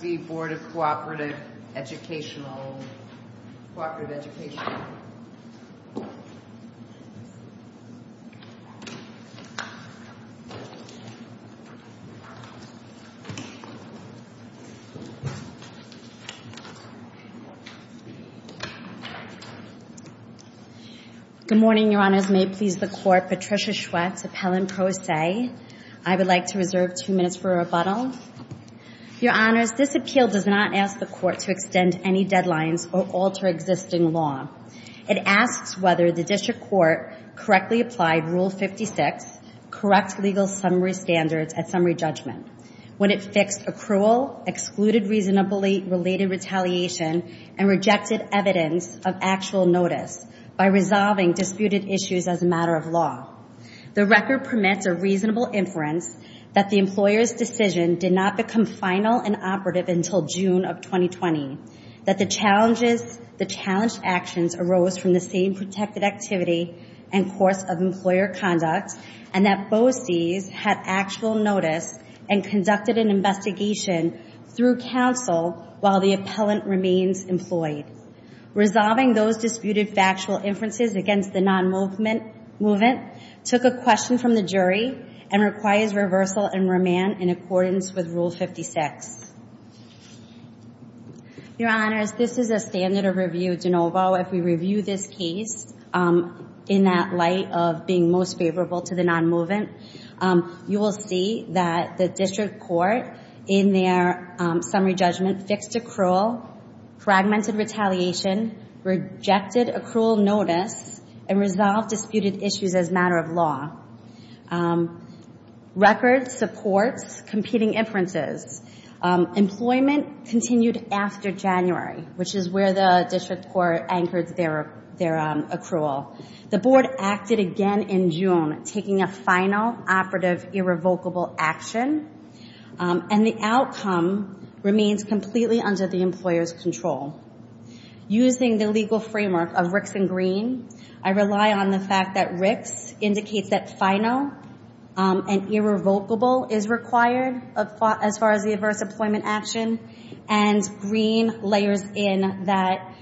Good morning, Your Honors. May it please the Court, Patricia Schwetz, Appellant Pro I would like to reserve two minutes for rebuttal. Your Honors, this appeal does not ask the Court to extend any deadlines or alter existing law. It asks whether the District Court correctly applied Rule 56, Correct Legal Summary Standards at Summary Judgment, when it fixed accrual, excluded reasonably related retaliation, and rejected evidence of actual notice by resolving disputed issues as a matter of law. The record permits a reasonable inference that the employer's decision did not become final and operative until June of 2020, that the challenged actions arose from the same protected activity and course of employer conduct, and that BOCES had actual notice and conducted an investigation through counsel while the appellant remains employed. Resolving those disputed factual inferences against the non-movement took a question from the jury and requires reversal and remand in accordance with Rule 56. Your Honors, this is a standard of review de novo. If we review this case in that light of being most favorable to the non-movement, you will see that the District Court in their Summary Judgment fixed accrual, fragmented retaliation, rejected accrual notice, and resolved disputed issues as a matter of law. Record supports competing inferences. Employment continued after January, which is where the District Court anchored their accrual. The Board acted again in June, taking a final, operative, irrevocable action, and the outcome remains completely under the employer's control. Using the legal framework of Ricks and Green, I rely on the fact that Ricks indicates that final and irrevocable is required as far as the adverse employment action, and Green layers in that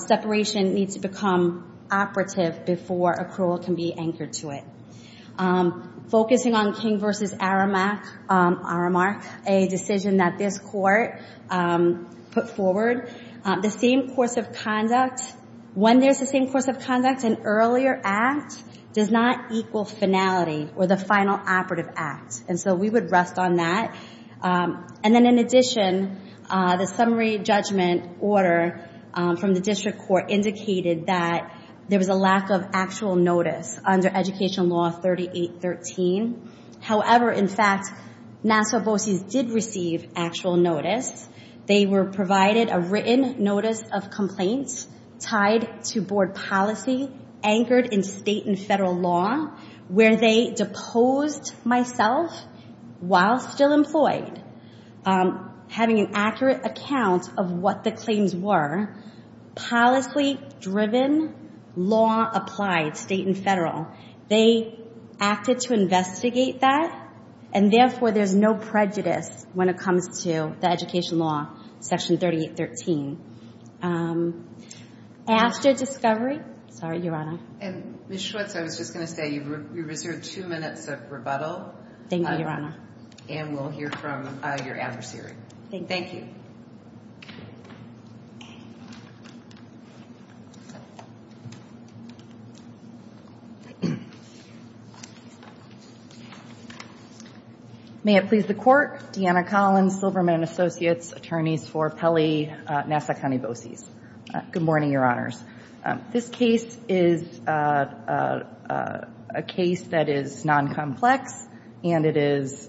separation needs to become operative before accrual can be anchored to it. Focusing on King v. Aramark, a decision that this Court put forward, the same course of conduct, when there's the same course of conduct, an earlier act does not equal finality or the final operative act, and so we would rest on that. And then in addition, the Summary Judgment order from the District Court indicated that there was a lack of actual notice under Education Law 3813. However, in fact, NASA VOCES did receive actual notice. They were provided a written notice of complaint tied to Board policy anchored in state and federal law, where they deposed myself while still employed. Having an accurate account of what the claims were, policy-driven, law-applied, state and federal, they acted to investigate that, and therefore there's no prejudice when it comes to the Education Law Section 3813. After discovery, sorry, Your Honor. And Ms. Schwartz, I was just going to say, you've reserved two minutes of rebuttal. Thank you, Your Honor. And we'll hear from your adversary. Thank you. May it please the Court, Deanna Collins, Silverman & Associates, attorneys for Pelley, NASA County VOCES. Good morning, Your Honors. This case is a case that is non-complex, and it is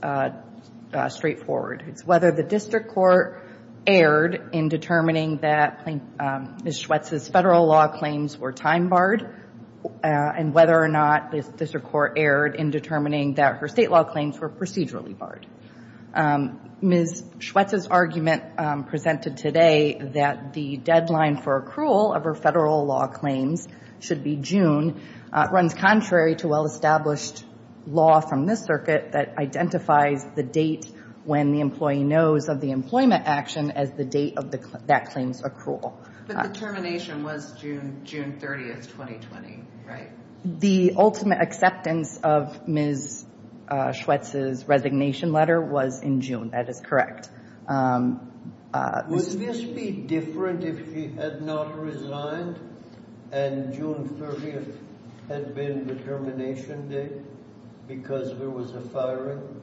straightforward. It's whether the district court erred in determining that Ms. Schwartz's federal law claims were time-barred, and whether or not the district court erred in determining that her state law claims were procedurally barred. Ms. Schwartz's argument presented today that the deadline for accrual of her federal law claims should be June runs contrary to well-established law from this circuit that identifies the date when the employee knows of the employment action as the date of that claim's accrual. But the termination was June 30, 2020, right? The ultimate acceptance of Ms. Schwartz's resignation letter was in June. That is correct. Would this be different if she had not resigned and June 30 had been the termination date? Because there was a firing?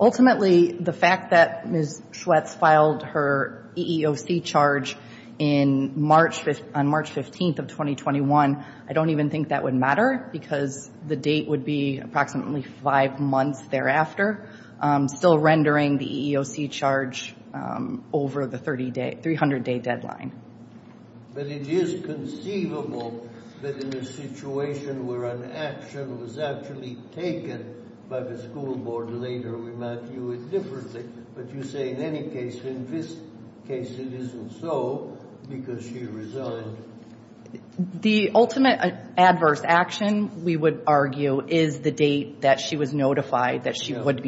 Ultimately, the fact that Ms. Schwartz filed her EEOC charge on March 15, 2021, I don't even think that would matter because the date would be approximately five months thereafter, still rendering the EEOC charge over the 300-day deadline. But it is conceivable that in a situation where an action was actually taken by the school board later, we might view it differently. But you say in any case, in this case, it isn't so because she resigned. The ultimate adverse action, we would argue, is the date that she was notified that she was fired.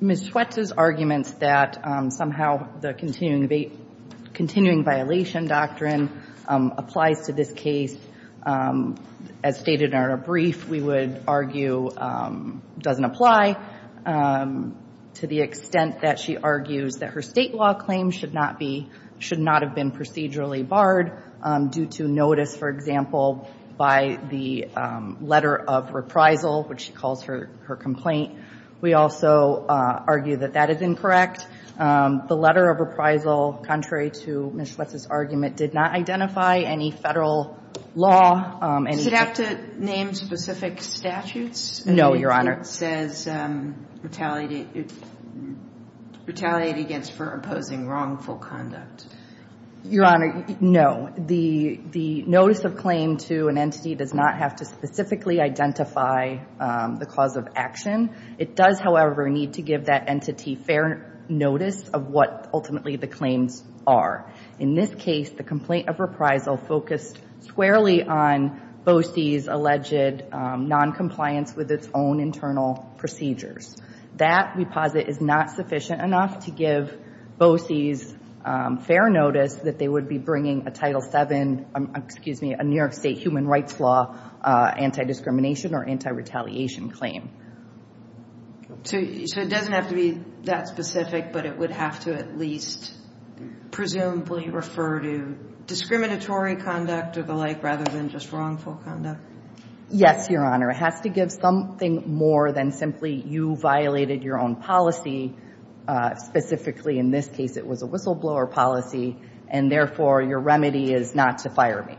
Ms. Schwartz's arguments that somehow the continuing violation doctrine applies to this case, as stated in her brief, we would argue doesn't apply to the extent that she argues that her state law claims should not have been procedurally barred due to notice, for example, by the letter of reprisal, which she calls her complaint. We also argue that that is incorrect. The letter of reprisal, contrary to Ms. Schwartz's argument, did not identify any federal law. Should it have to name specific statutes? No, Your Honor. It says retaliate against for opposing wrongful conduct. Your Honor, no. The notice of claim to an entity does not have to specifically identify the cause of action. It does, however, need to give that entity fair notice of what ultimately the claims are. In this case, the complaint of reprisal focused squarely on BOCES' alleged noncompliance with its own internal procedures. That, we posit, is not sufficient enough to give BOCES fair notice that they would be bringing a Title VII, excuse me, a New York State Human Rights Law anti-discrimination or anti-retaliation claim. So it doesn't have to be that specific, but it would have to at least presumably refer to discriminatory conduct or the like rather than just wrongful conduct? Yes, Your Honor. It has to give something more than simply you violated your own policy, specifically in this case it was a whistleblower policy, and therefore your remedy is not to fire me.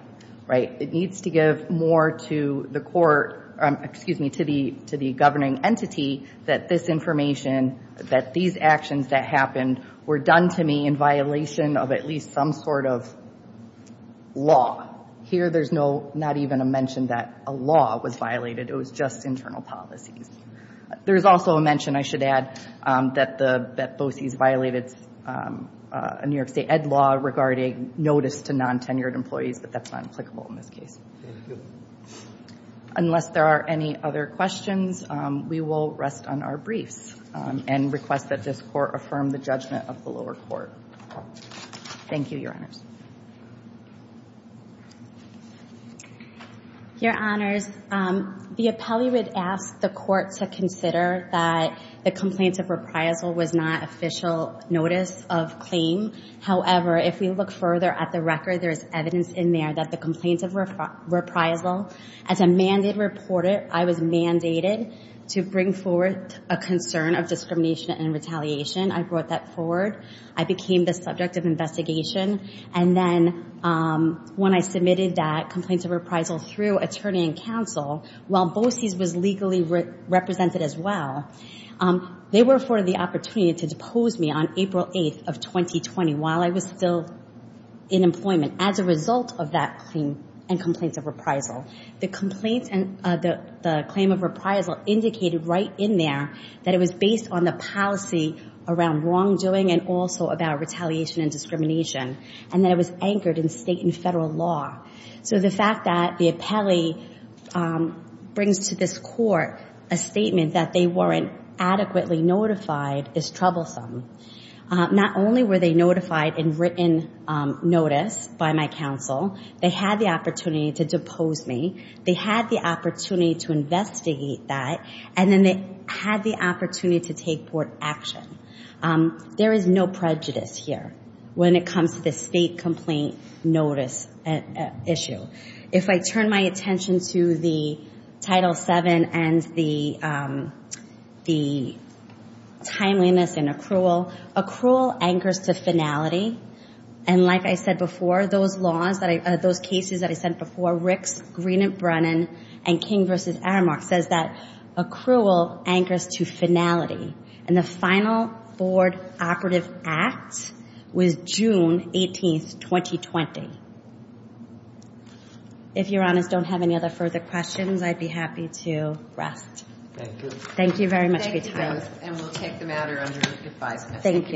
It needs to give more to the court, excuse me, to the governing entity that this information, that these actions that happened were done to me in violation of at least some sort of law. Here there's not even a mention that a law was violated. It was just internal policies. There's also a mention, I should add, that BOCES violated a New York State Ed Law regarding notice to non-tenured employees, but that's not applicable in this case. Unless there are any other questions, we will rest on our briefs and request that this court affirm the judgment of the lower court. Thank you, Your Honors. Your Honors, the appellee would ask the court to consider that the complaint of reprisal was not an official notice of claim. However, if we look further at the record, there's evidence in there that the complaint of reprisal, as a mandated reporter, I was mandated to bring forward a concern of discrimination and retaliation. I brought that forward. I became the subject of investigation, and then when I submitted that complaint of reprisal through attorney and counsel, while BOCES was legally represented as well, they were afforded the opportunity to depose me on April 8th of 2020 while I was still in employment as a result of that claim and complaint of reprisal. The claim of reprisal indicated right in there that it was based on the policy around wrongdoing and also about retaliation and discrimination, and that it was anchored in state and federal law. So the fact that the appellee brings to this court a statement that they weren't adequately notified is troublesome. Not only were they notified in written notice by my counsel, they had the opportunity to depose me, they had the opportunity to investigate that, and then they had the opportunity to take court action. There is no prejudice here when it comes to the state complaint notice issue. If I turn my attention to the Title VII and the Title VIII, and the Title VII, the timeliness and accrual, accrual anchors to finality. And like I said before, those cases that I sent before, Ricks, Green and Brennan, and King v. Aramark, says that accrual anchors to finality. And the final board operative act was June 18th, 2020. If Your Honors don't have any other further questions, I'd be happy to rest. Thank you both, and we'll take the matter under advisement.